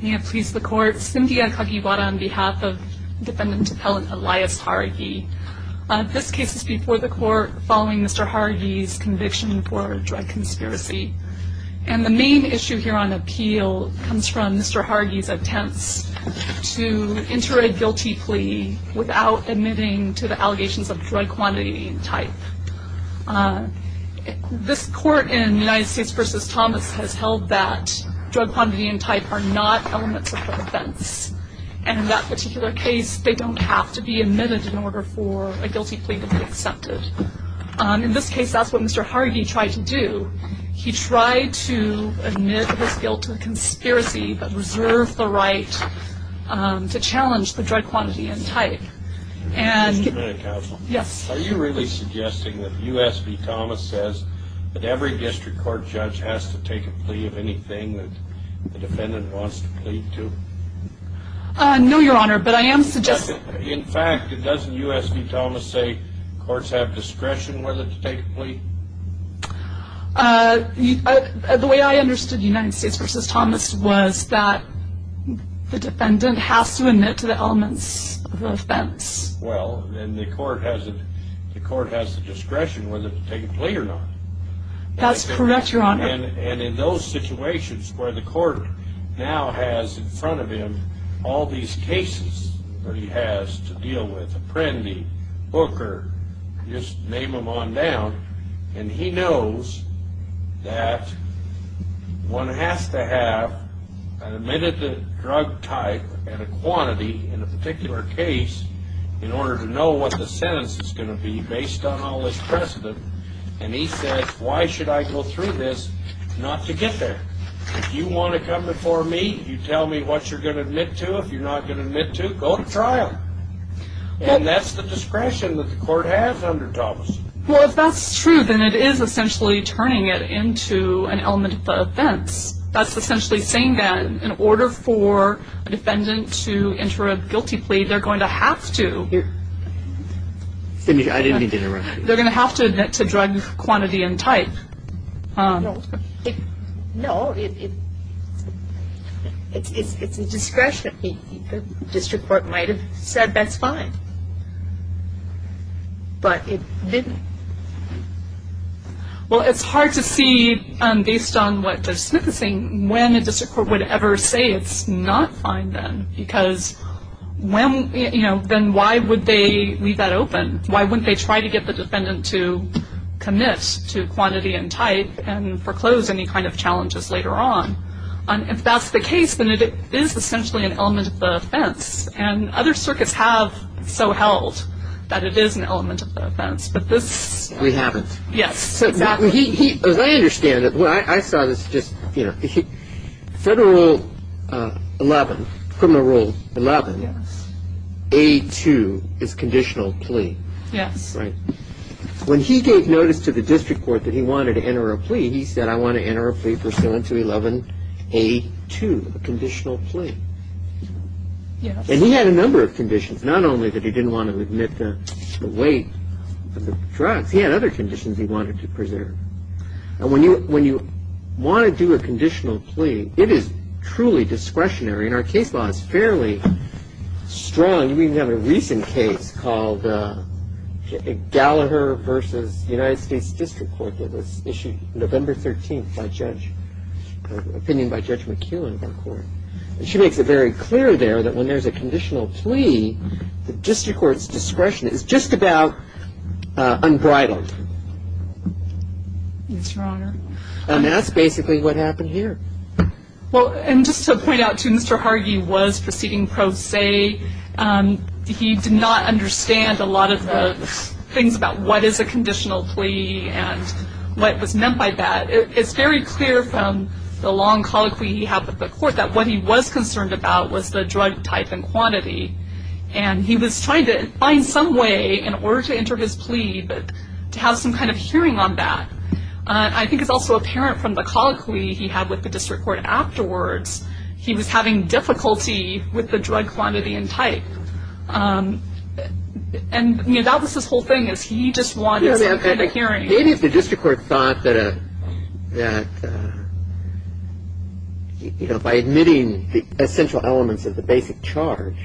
May it please the court, Cynthia Kagiwara on behalf of defendant appellant Elias Jauregui. This case is before the court following Mr. Jauregui's conviction for drug conspiracy. And the main issue here on appeal comes from Mr. Jauregui's attempts to enter a guilty plea without admitting to the allegations of drug quantity and type. This court in United States v. Thomas has held that drug quantity and type are not elements of the offense. And in that particular case, they don't have to be admitted in order for a guilty plea to be accepted. In this case, that's what Mr. Jauregui tried to do. He tried to admit his guilt to a conspiracy but reserve the right to challenge the drug quantity and type. Are you really suggesting that U.S. v. Thomas says that every district court judge has to take a plea of anything that the defendant wants to plead to? No, Your Honor, but I am suggesting... In fact, doesn't U.S. v. Thomas say courts have discretion whether to take a plea? The way I understood U.S. v. Thomas was that the defendant has to admit to the elements of the offense. Well, and the court has the discretion whether to take a plea or not. That's correct, Your Honor. And in those situations where the court now has in front of him all these cases that he has to deal with, Booker, just name them on down, and he knows that one has to have an admitted drug type and a quantity in a particular case in order to know what the sentence is going to be based on all this precedent. And he says, why should I go through this not to get there? If you want to come before me, you tell me what you're going to admit to. If you're not going to admit to, go to trial. And that's the discretion that the court has under Thomas. Well, if that's true, then it is essentially turning it into an element of the offense. That's essentially saying that in order for a defendant to enter a guilty plea, they're going to have to. I didn't mean to interrupt you. They're going to have to admit to drug quantity and type. No. It's a discretion. The district court might have said that's fine. But it didn't. Well, it's hard to see, based on what Smith is saying, when a district court would ever say it's not fine then. Because when, you know, then why would they leave that open? Why wouldn't they try to get the defendant to commit to quantity and type and foreclose any kind of challenges later on? If that's the case, then it is essentially an element of the offense. And other circuits have so held that it is an element of the offense. But this. We haven't. Yes, exactly. As I understand it, I saw this just, you know, federal rule 11, criminal rule 11. Yes. A2 is conditional plea. Yes. Right. When he gave notice to the district court that he wanted to enter a plea, he said I want to enter a plea pursuant to 11A2, a conditional plea. Yes. And he had a number of conditions. Not only that he didn't want to admit the weight of the drugs. He had other conditions he wanted to preserve. And when you want to do a conditional plea, it is truly discretionary. And our case law is fairly strong. We even have a recent case called Gallagher v. United States District Court. It was issued November 13th by Judge McKeown of our court. And she makes it very clear there that when there's a conditional plea, the district court's discretion is just about unbridled. Yes, Your Honor. And that's basically what happened here. Well, and just to point out too, Mr. Hargy was proceeding pro se. He did not understand a lot of the things about what is a conditional plea and what was meant by that. It's very clear from the long colloquy he had with the court that what he was concerned about was the drug type and quantity. And he was trying to find some way in order to enter his plea to have some kind of hearing on that. I think it's also apparent from the colloquy he had with the district court afterwards, he was having difficulty with the drug quantity and type. And, you know, that was his whole thing is he just wanted some kind of hearing. Maybe if the district court thought that, you know, by admitting the essential elements of the basic charge,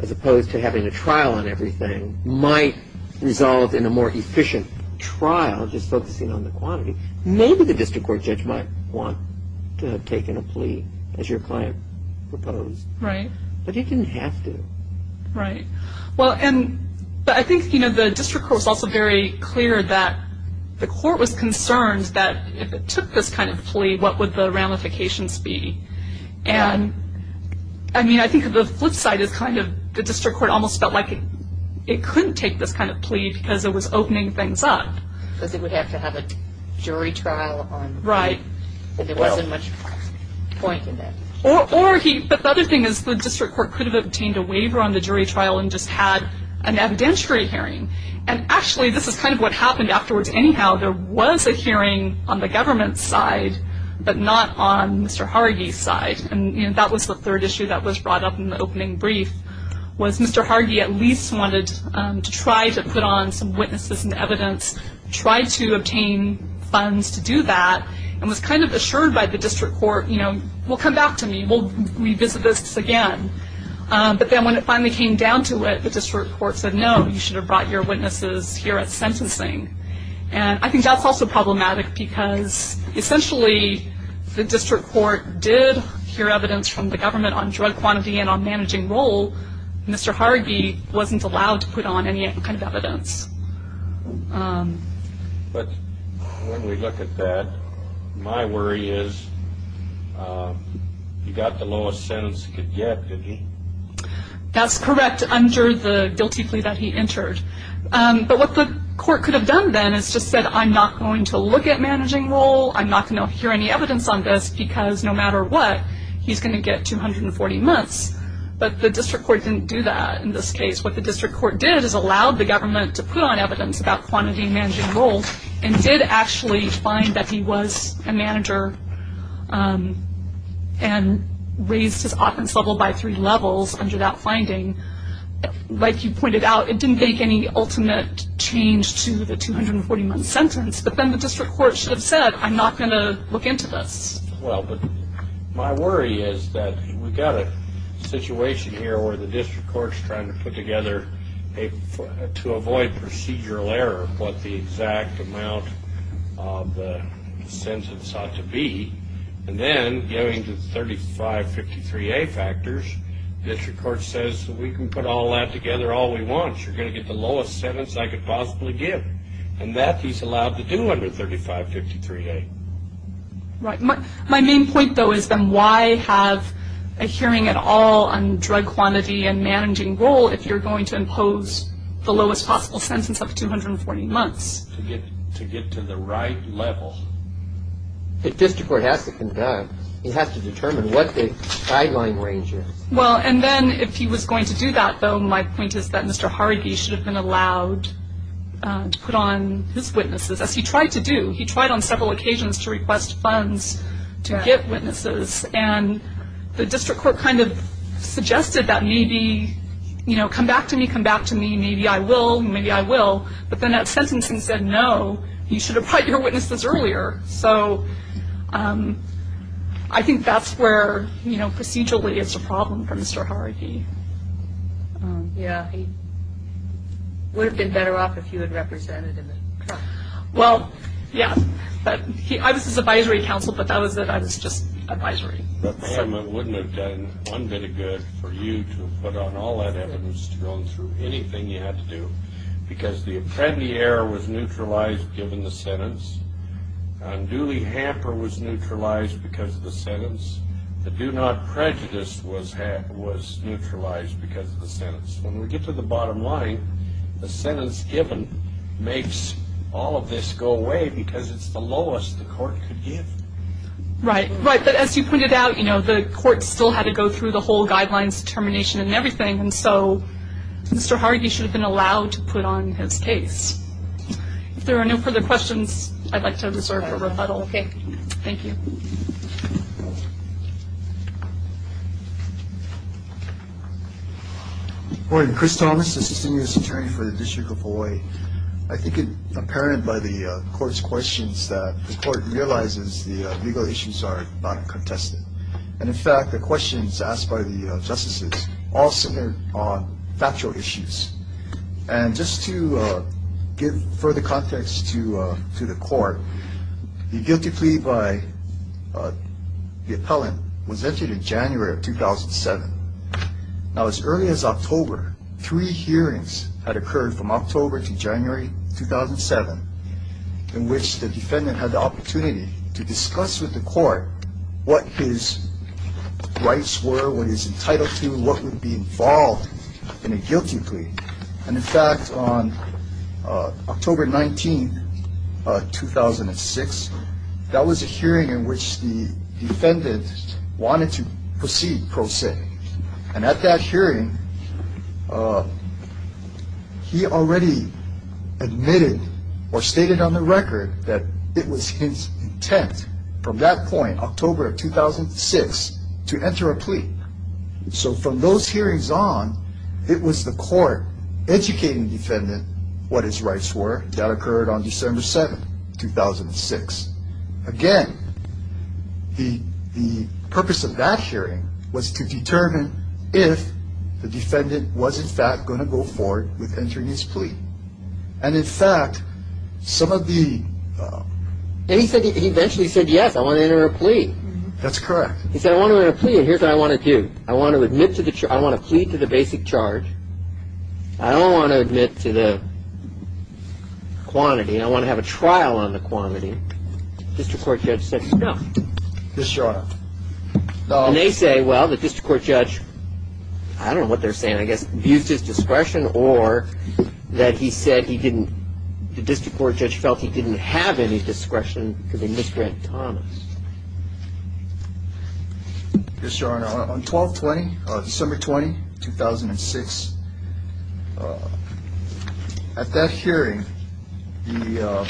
as opposed to having a trial on everything, might resolve in a more efficient trial just focusing on the quantity. Maybe the district court judge might want to have taken a plea, as your client proposed. Right. But he didn't have to. Right. Well, and I think, you know, the district court was also very clear that the court was concerned that if it took this kind of plea, what would the ramifications be. And, I mean, I think the flip side is kind of the district court almost felt like it couldn't take this kind of plea because it was opening things up. Because it would have to have a jury trial on it. Right. And there wasn't much point in that. But the other thing is the district court could have obtained a waiver on the jury trial and just had an evidentiary hearing. And, actually, this is kind of what happened afterwards. Anyhow, there was a hearing on the government's side, but not on Mr. Hargis' side. And that was the third issue that was brought up in the opening brief, was Mr. Hargis at least wanted to try to put on some witnesses and evidence, try to obtain funds to do that, and was kind of assured by the district court, you know, we'll come back to me, we'll revisit this again. But then when it finally came down to it, the district court said, no, you should have brought your witnesses here at sentencing. And I think that's also problematic because, essentially, the district court did hear evidence from the government on drug quantity and on managing role. Mr. Hargis wasn't allowed to put on any kind of evidence. But when we look at that, my worry is he got the lowest sentence he could get, didn't he? That's correct, under the guilty plea that he entered. But what the court could have done then is just said, I'm not going to look at managing role, I'm not going to hear any evidence on this, because no matter what, he's going to get 240 months. But the district court didn't do that in this case. What the district court did is allowed the government to put on evidence about and did actually find that he was a manager and raised his offense level by three levels under that finding. Like you pointed out, it didn't make any ultimate change to the 241 sentence. But then the district court should have said, I'm not going to look into this. Well, but my worry is that we've got a situation here where the district court is trying to put together to avoid procedural error what the exact amount of the sentence ought to be. And then going to the 3553A factors, the district court says we can put all that together all we want. You're going to get the lowest sentence I could possibly give. And that he's allowed to do under 3553A. My main point, though, is then why have a hearing at all on drug quantity and managing role if you're going to impose the lowest possible sentence of 240 months? To get to the right level. The district court has to conduct. It has to determine what the guideline range is. Well, and then if he was going to do that, though, my point is that Mr. Hargi should have been allowed to put on his witnesses, as he tried to do. He tried on several occasions to request funds to get witnesses. And the district court kind of suggested that maybe, you know, come back to me, come back to me, maybe I will, maybe I will. But then that sentencing said, no, you should have brought your witnesses earlier. So I think that's where, you know, procedurally it's a problem for Mr. Hargi. Yeah, he would have been better off if he had represented in the trial. Well, yeah. I was his advisory counsel, but that was it. I was just advisory. But, Pam, it wouldn't have done one bit of good for you to have put on all that evidence, to have gone through anything you had to do, because the apprendi error was neutralized given the sentence. Duly hamper was neutralized because of the sentence. The do not prejudice was neutralized because of the sentence. When we get to the bottom line, the sentence given makes all of this go away because it's the lowest the court could give. Right, right. But as you pointed out, you know, the court still had to go through the whole guidelines determination and everything. And so Mr. Hargi should have been allowed to put on his case. If there are no further questions, I'd like to reserve a rebuttal. Okay. Thank you. Good morning. Chris Thomas, assistant U.S. attorney for the District of Hawaii. I think it's apparent by the court's questions that the court realizes the legal issues are not contested. And, in fact, the questions asked by the justices all centered on factual issues. And just to give further context to the court, the guilty plea by the appellant was entered in January of 2007. Now, as early as October, three hearings had occurred from October to January 2007 in which the defendant had the opportunity to discuss with the court what his rights were, what he was entitled to, what would be involved in a guilty plea. And, in fact, on October 19, 2006, that was a hearing in which the defendant wanted to proceed pro se. And at that hearing, he already admitted or stated on the record that it was his intent from that point, October of 2006, to enter a plea. So from those hearings on, it was the court educating the defendant what his rights were. That occurred on December 7, 2006. Again, the purpose of that hearing was to determine if the defendant was, in fact, going to go forward with entering his plea. And, in fact, some of the... And he eventually said, yes, I want to enter a plea. That's correct. He said, I want to enter a plea, and here's what I want to do. I want to plead to the basic charge. I don't want to admit to the quantity. I want to have a trial on the quantity. The district court judge said, no. This is your honor. And they say, well, the district court judge, I don't know what they're saying, I guess, abused his discretion or that he said he didn't... Mr. Thomas. Yes, your honor. On 12-20, December 20, 2006, at that hearing, the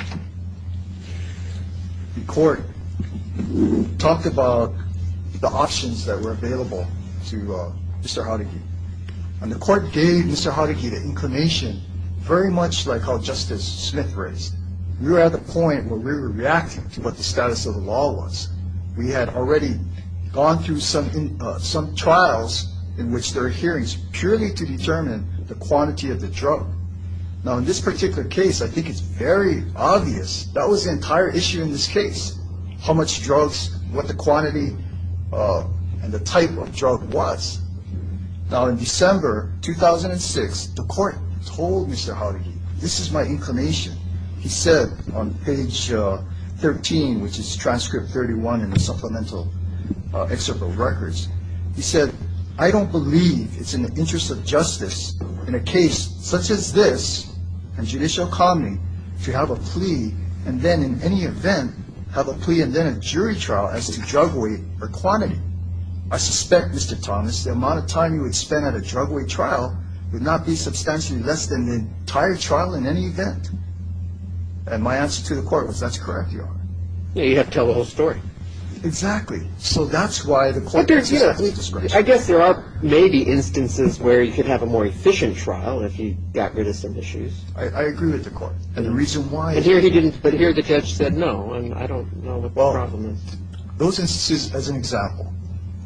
court talked about the options that were available to Mr. Haragi. And the court gave Mr. Haragi the inclination very much like how Justice Smith raised. We were at the point where we were reacting to what the status of the law was. We had already gone through some trials in which there are hearings purely to determine the quantity of the drug. Now, in this particular case, I think it's very obvious. That was the entire issue in this case, how much drugs, what the quantity and the type of drug was. Now, in December 2006, the court told Mr. Haragi, this is my inclination. He said on page 13, which is transcript 31 in the supplemental excerpt of records, he said, I don't believe it's in the interest of justice in a case such as this and judicial commoning to have a plea and then in any event have a plea and then a jury trial as to drug weight or quantity. I suspect, Mr. Thomas, the amount of time you would spend at a drug weight trial would not be substantially less than the entire trial in any event. And my answer to the court was, that's correct, Your Honor. Yeah, you have to tell the whole story. Exactly. So that's why the court gave me a plea discretion. I guess there are maybe instances where he could have a more efficient trial if he got rid of some issues. I agree with the court. And the reason why he didn't. But here the judge said no, and I don't know what the problem is. Those instances, as an example,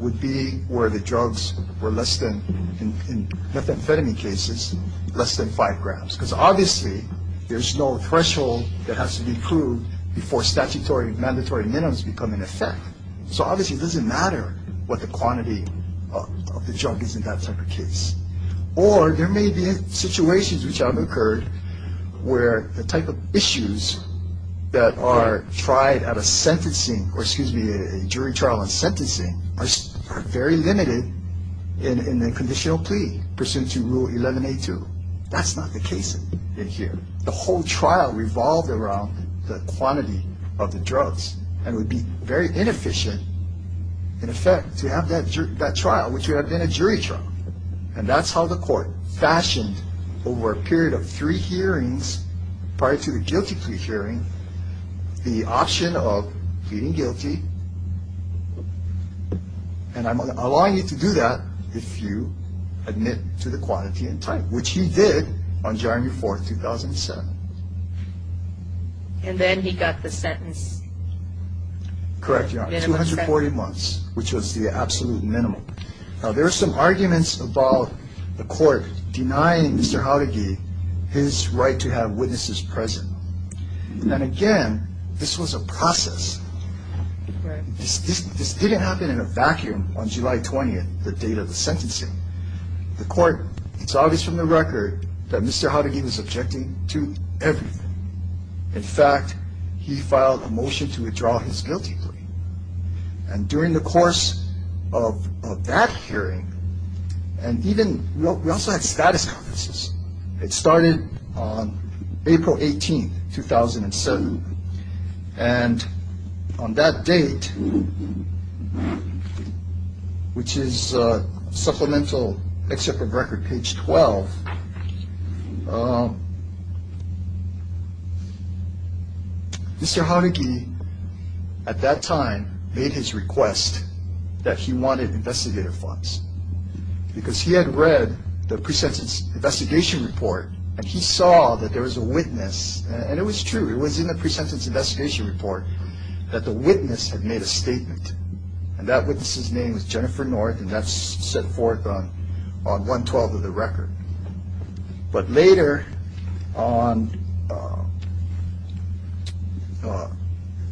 would be where the drugs were less than, in methamphetamine cases, less than 5 grams. Because obviously there's no threshold that has to be proved before statutory mandatory minimums become in effect. So obviously it doesn't matter what the quantity of the drug is in that type of case. Or there may be situations which have occurred where the type of issues that are tried at a sentencing or, excuse me, a jury trial and sentencing are very limited in the conditional plea pursuant to Rule 11A2. That's not the case in here. The whole trial revolved around the quantity of the drugs and would be very inefficient, in effect, to have that trial which would have been a jury trial. And that's how the court fashioned over a period of three hearings prior to the guilty plea hearing the option of pleading guilty, and I'm allowing you to do that if you admit to the quantity and type, which he did on January 4, 2007. And then he got the sentence. Correct, Your Honor. Minimum sentence. 240 months, which was the absolute minimum. Now, there were some arguments about the court denying Mr. Haudegui his right to have witnesses present. And, again, this was a process. This didn't happen in a vacuum on July 20th, the date of the sentencing. The court saw this from the record that Mr. Haudegui was objecting to everything. In fact, he filed a motion to withdraw his guilty plea. And during the course of that hearing, and even we also had status conferences. It started on April 18, 2007. And on that date, which is supplemental excerpt of record, page 12, Mr. Haudegui, at that time, made his request that he wanted investigator funds. Because he had read the pre-sentence investigation report, and he saw that there was a witness, and it was true, it was in the pre-sentence investigation report, that the witness had made a statement. And that witness's name was Jennifer North, and that's set forth on 112 of the record. But later, on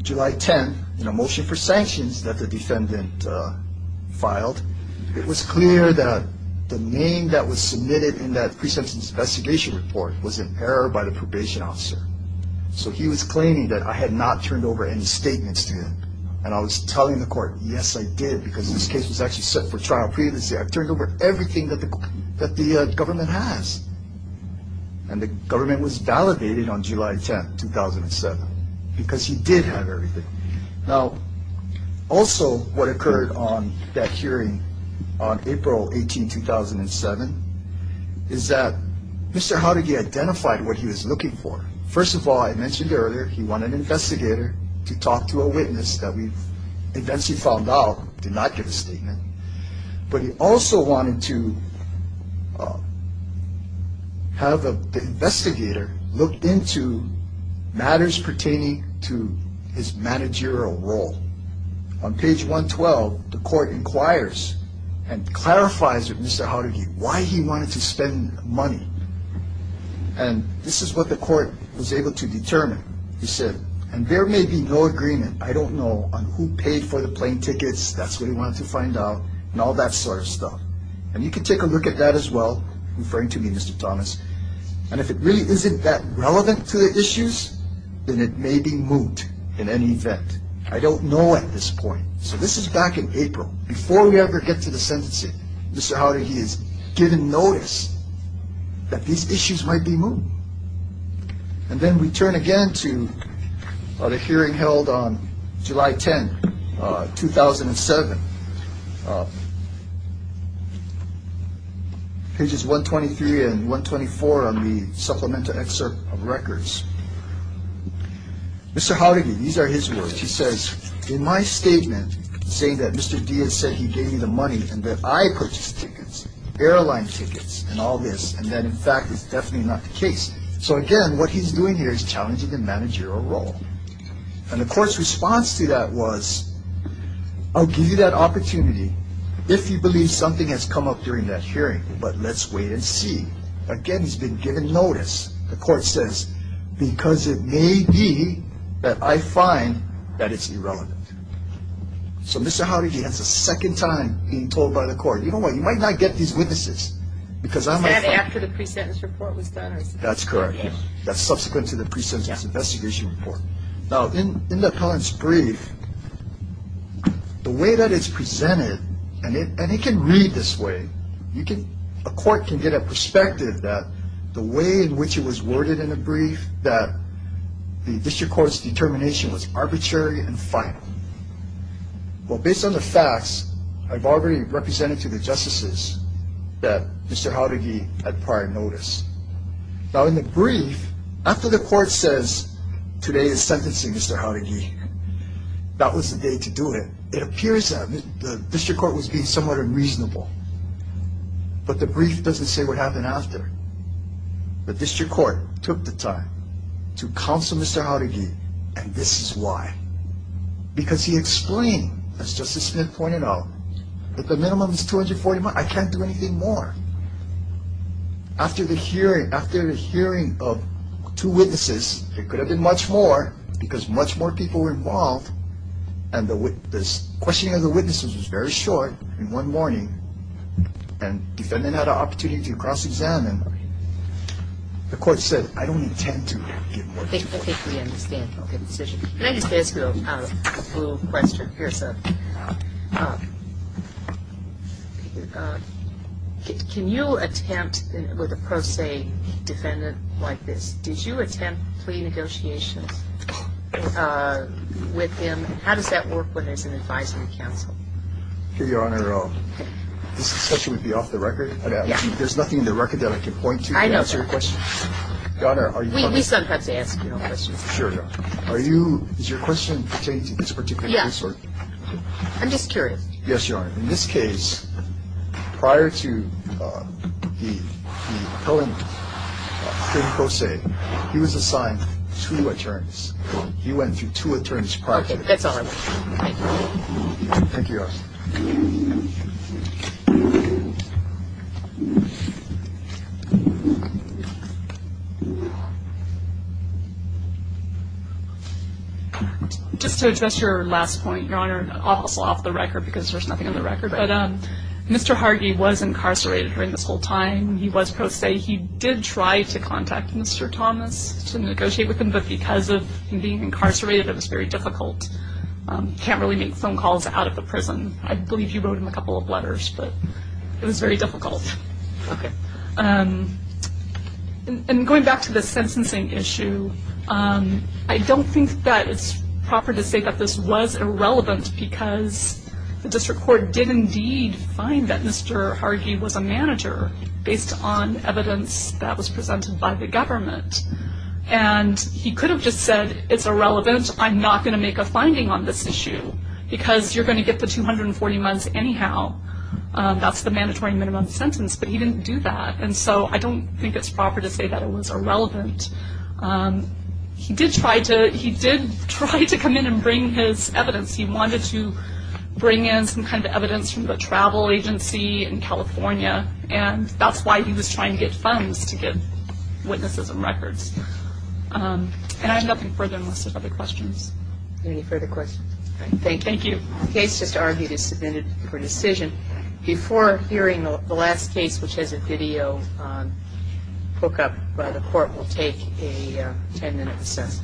July 10, in a motion for sanctions that the defendant filed, it was clear that the name that was submitted in that pre-sentence investigation report was in error by the probation officer. So he was claiming that I had not turned over any statements to him. And I was telling the court, yes, I did, because this case was actually set for trial previously. I turned over everything that the government has. And the government was validated on July 10, 2007, because he did have everything. Now, also, what occurred on that hearing on April 18, 2007, is that Mr. Haudegui identified what he was looking for. First of all, I mentioned earlier, he wanted an investigator to talk to a witness that we eventually found out did not give a statement. But he also wanted to have the investigator look into matters pertaining to his managerial role. On page 112, the court inquires and clarifies with Mr. Haudegui why he wanted to spend money. And this is what the court was able to determine. He said, and there may be no agreement, I don't know, on who paid for the plane tickets, that's what he wanted to find out, and all that sort of stuff. And you can take a look at that as well, referring to me, Mr. Thomas. And if it really isn't that relevant to the issues, then it may be moot in any event. I don't know at this point. So this is back in April. Before we ever get to the sentencing, Mr. Haudegui is given notice that these issues might be moot. And then we turn again to the hearing held on July 10, 2007. Pages 123 and 124 on the supplemental excerpt of records. Mr. Haudegui, these are his words. He says, in my statement, saying that Mr. Diaz said he gave me the money and that I purchased tickets, airline tickets and all this, and that in fact is definitely not the case. So again, what he's doing here is challenging the managerial role. And the court's response to that was, I'll give you that opportunity if you believe something has come up during that hearing, but let's wait and see. Again, he's been given notice. The court says, because it may be that I find that it's irrelevant. So Mr. Haudegui has a second time being told by the court, you know what, you might not get these witnesses. Is that after the pre-sentence report was done? That's correct. That's subsequent to the pre-sentence investigation report. Now, in the appellant's brief, the way that it's presented, and it can read this way, a court can get a perspective that the way in which it was worded in the brief, that the district court's determination was arbitrary and final. Well, based on the facts, I've already represented to the justices that Mr. Haudegui had prior notice. Now, in the brief, after the court says, today is sentencing, Mr. Haudegui, that was the day to do it, it appears that the district court was being somewhat unreasonable. But the brief doesn't say what happened after. The district court took the time to counsel Mr. Haudegui, and this is why. Because he explained, as Justice Smith pointed out, that the minimum is $240,000. I can't do anything more. After the hearing of two witnesses, it could have been much more, because much more people were involved, and the questioning of the witnesses was very short in one morning. And the defendant had an opportunity to cross-examine. The court said, I don't intend to give more time. I think we understand the decision. Can I just ask you a little question? Here's a question. Can you attempt with a pro se defendant like this? The question is, did you attempt plea negotiations with him? How does that work when there's an advisory counsel? Your Honor, this question would be off the record. There's nothing in the record that I can point to to answer your question. I know. We sometimes ask questions. Sure. Is your question pertaining to this particular case? Yes. I'm just curious. Yes, Your Honor. In this case, prior to the appellant being pro se, he was assigned two attorneys. He went through two attorneys prior to this. Okay. That's all I want to know. Thank you. Thank you, Your Honor. Just to address your last point, Your Honor, also off the record, because there's nothing on the record. But Mr. Hargy was incarcerated during this whole time. He was pro se. He did try to contact Mr. Thomas to negotiate with him, but because of him being incarcerated, it was very difficult. Can't really make phone calls out of the prison. I believe you wrote him a couple of letters, but it was very difficult. Okay. And going back to the sentencing issue, I don't think that it's proper to say that this was irrelevant, because the district court did indeed find that Mr. Hargy was a manager, based on evidence that was presented by the government. And he could have just said, it's irrelevant. I'm not going to make a finding on this issue, because you're going to get the 240 months anyhow. That's the mandatory minimum sentence. But he didn't do that. And so I don't think it's proper to say that it was irrelevant. He did try to come in and bring his evidence. He wanted to bring in some kind of evidence from the travel agency in California, and that's why he was trying to get funds to get witnesses and records. And I have nothing further unless there are other questions. Any further questions? Thank you. The case just argued is submitted for decision. Before hearing the last case, which has a video hookup, the court will take a ten-minute recess.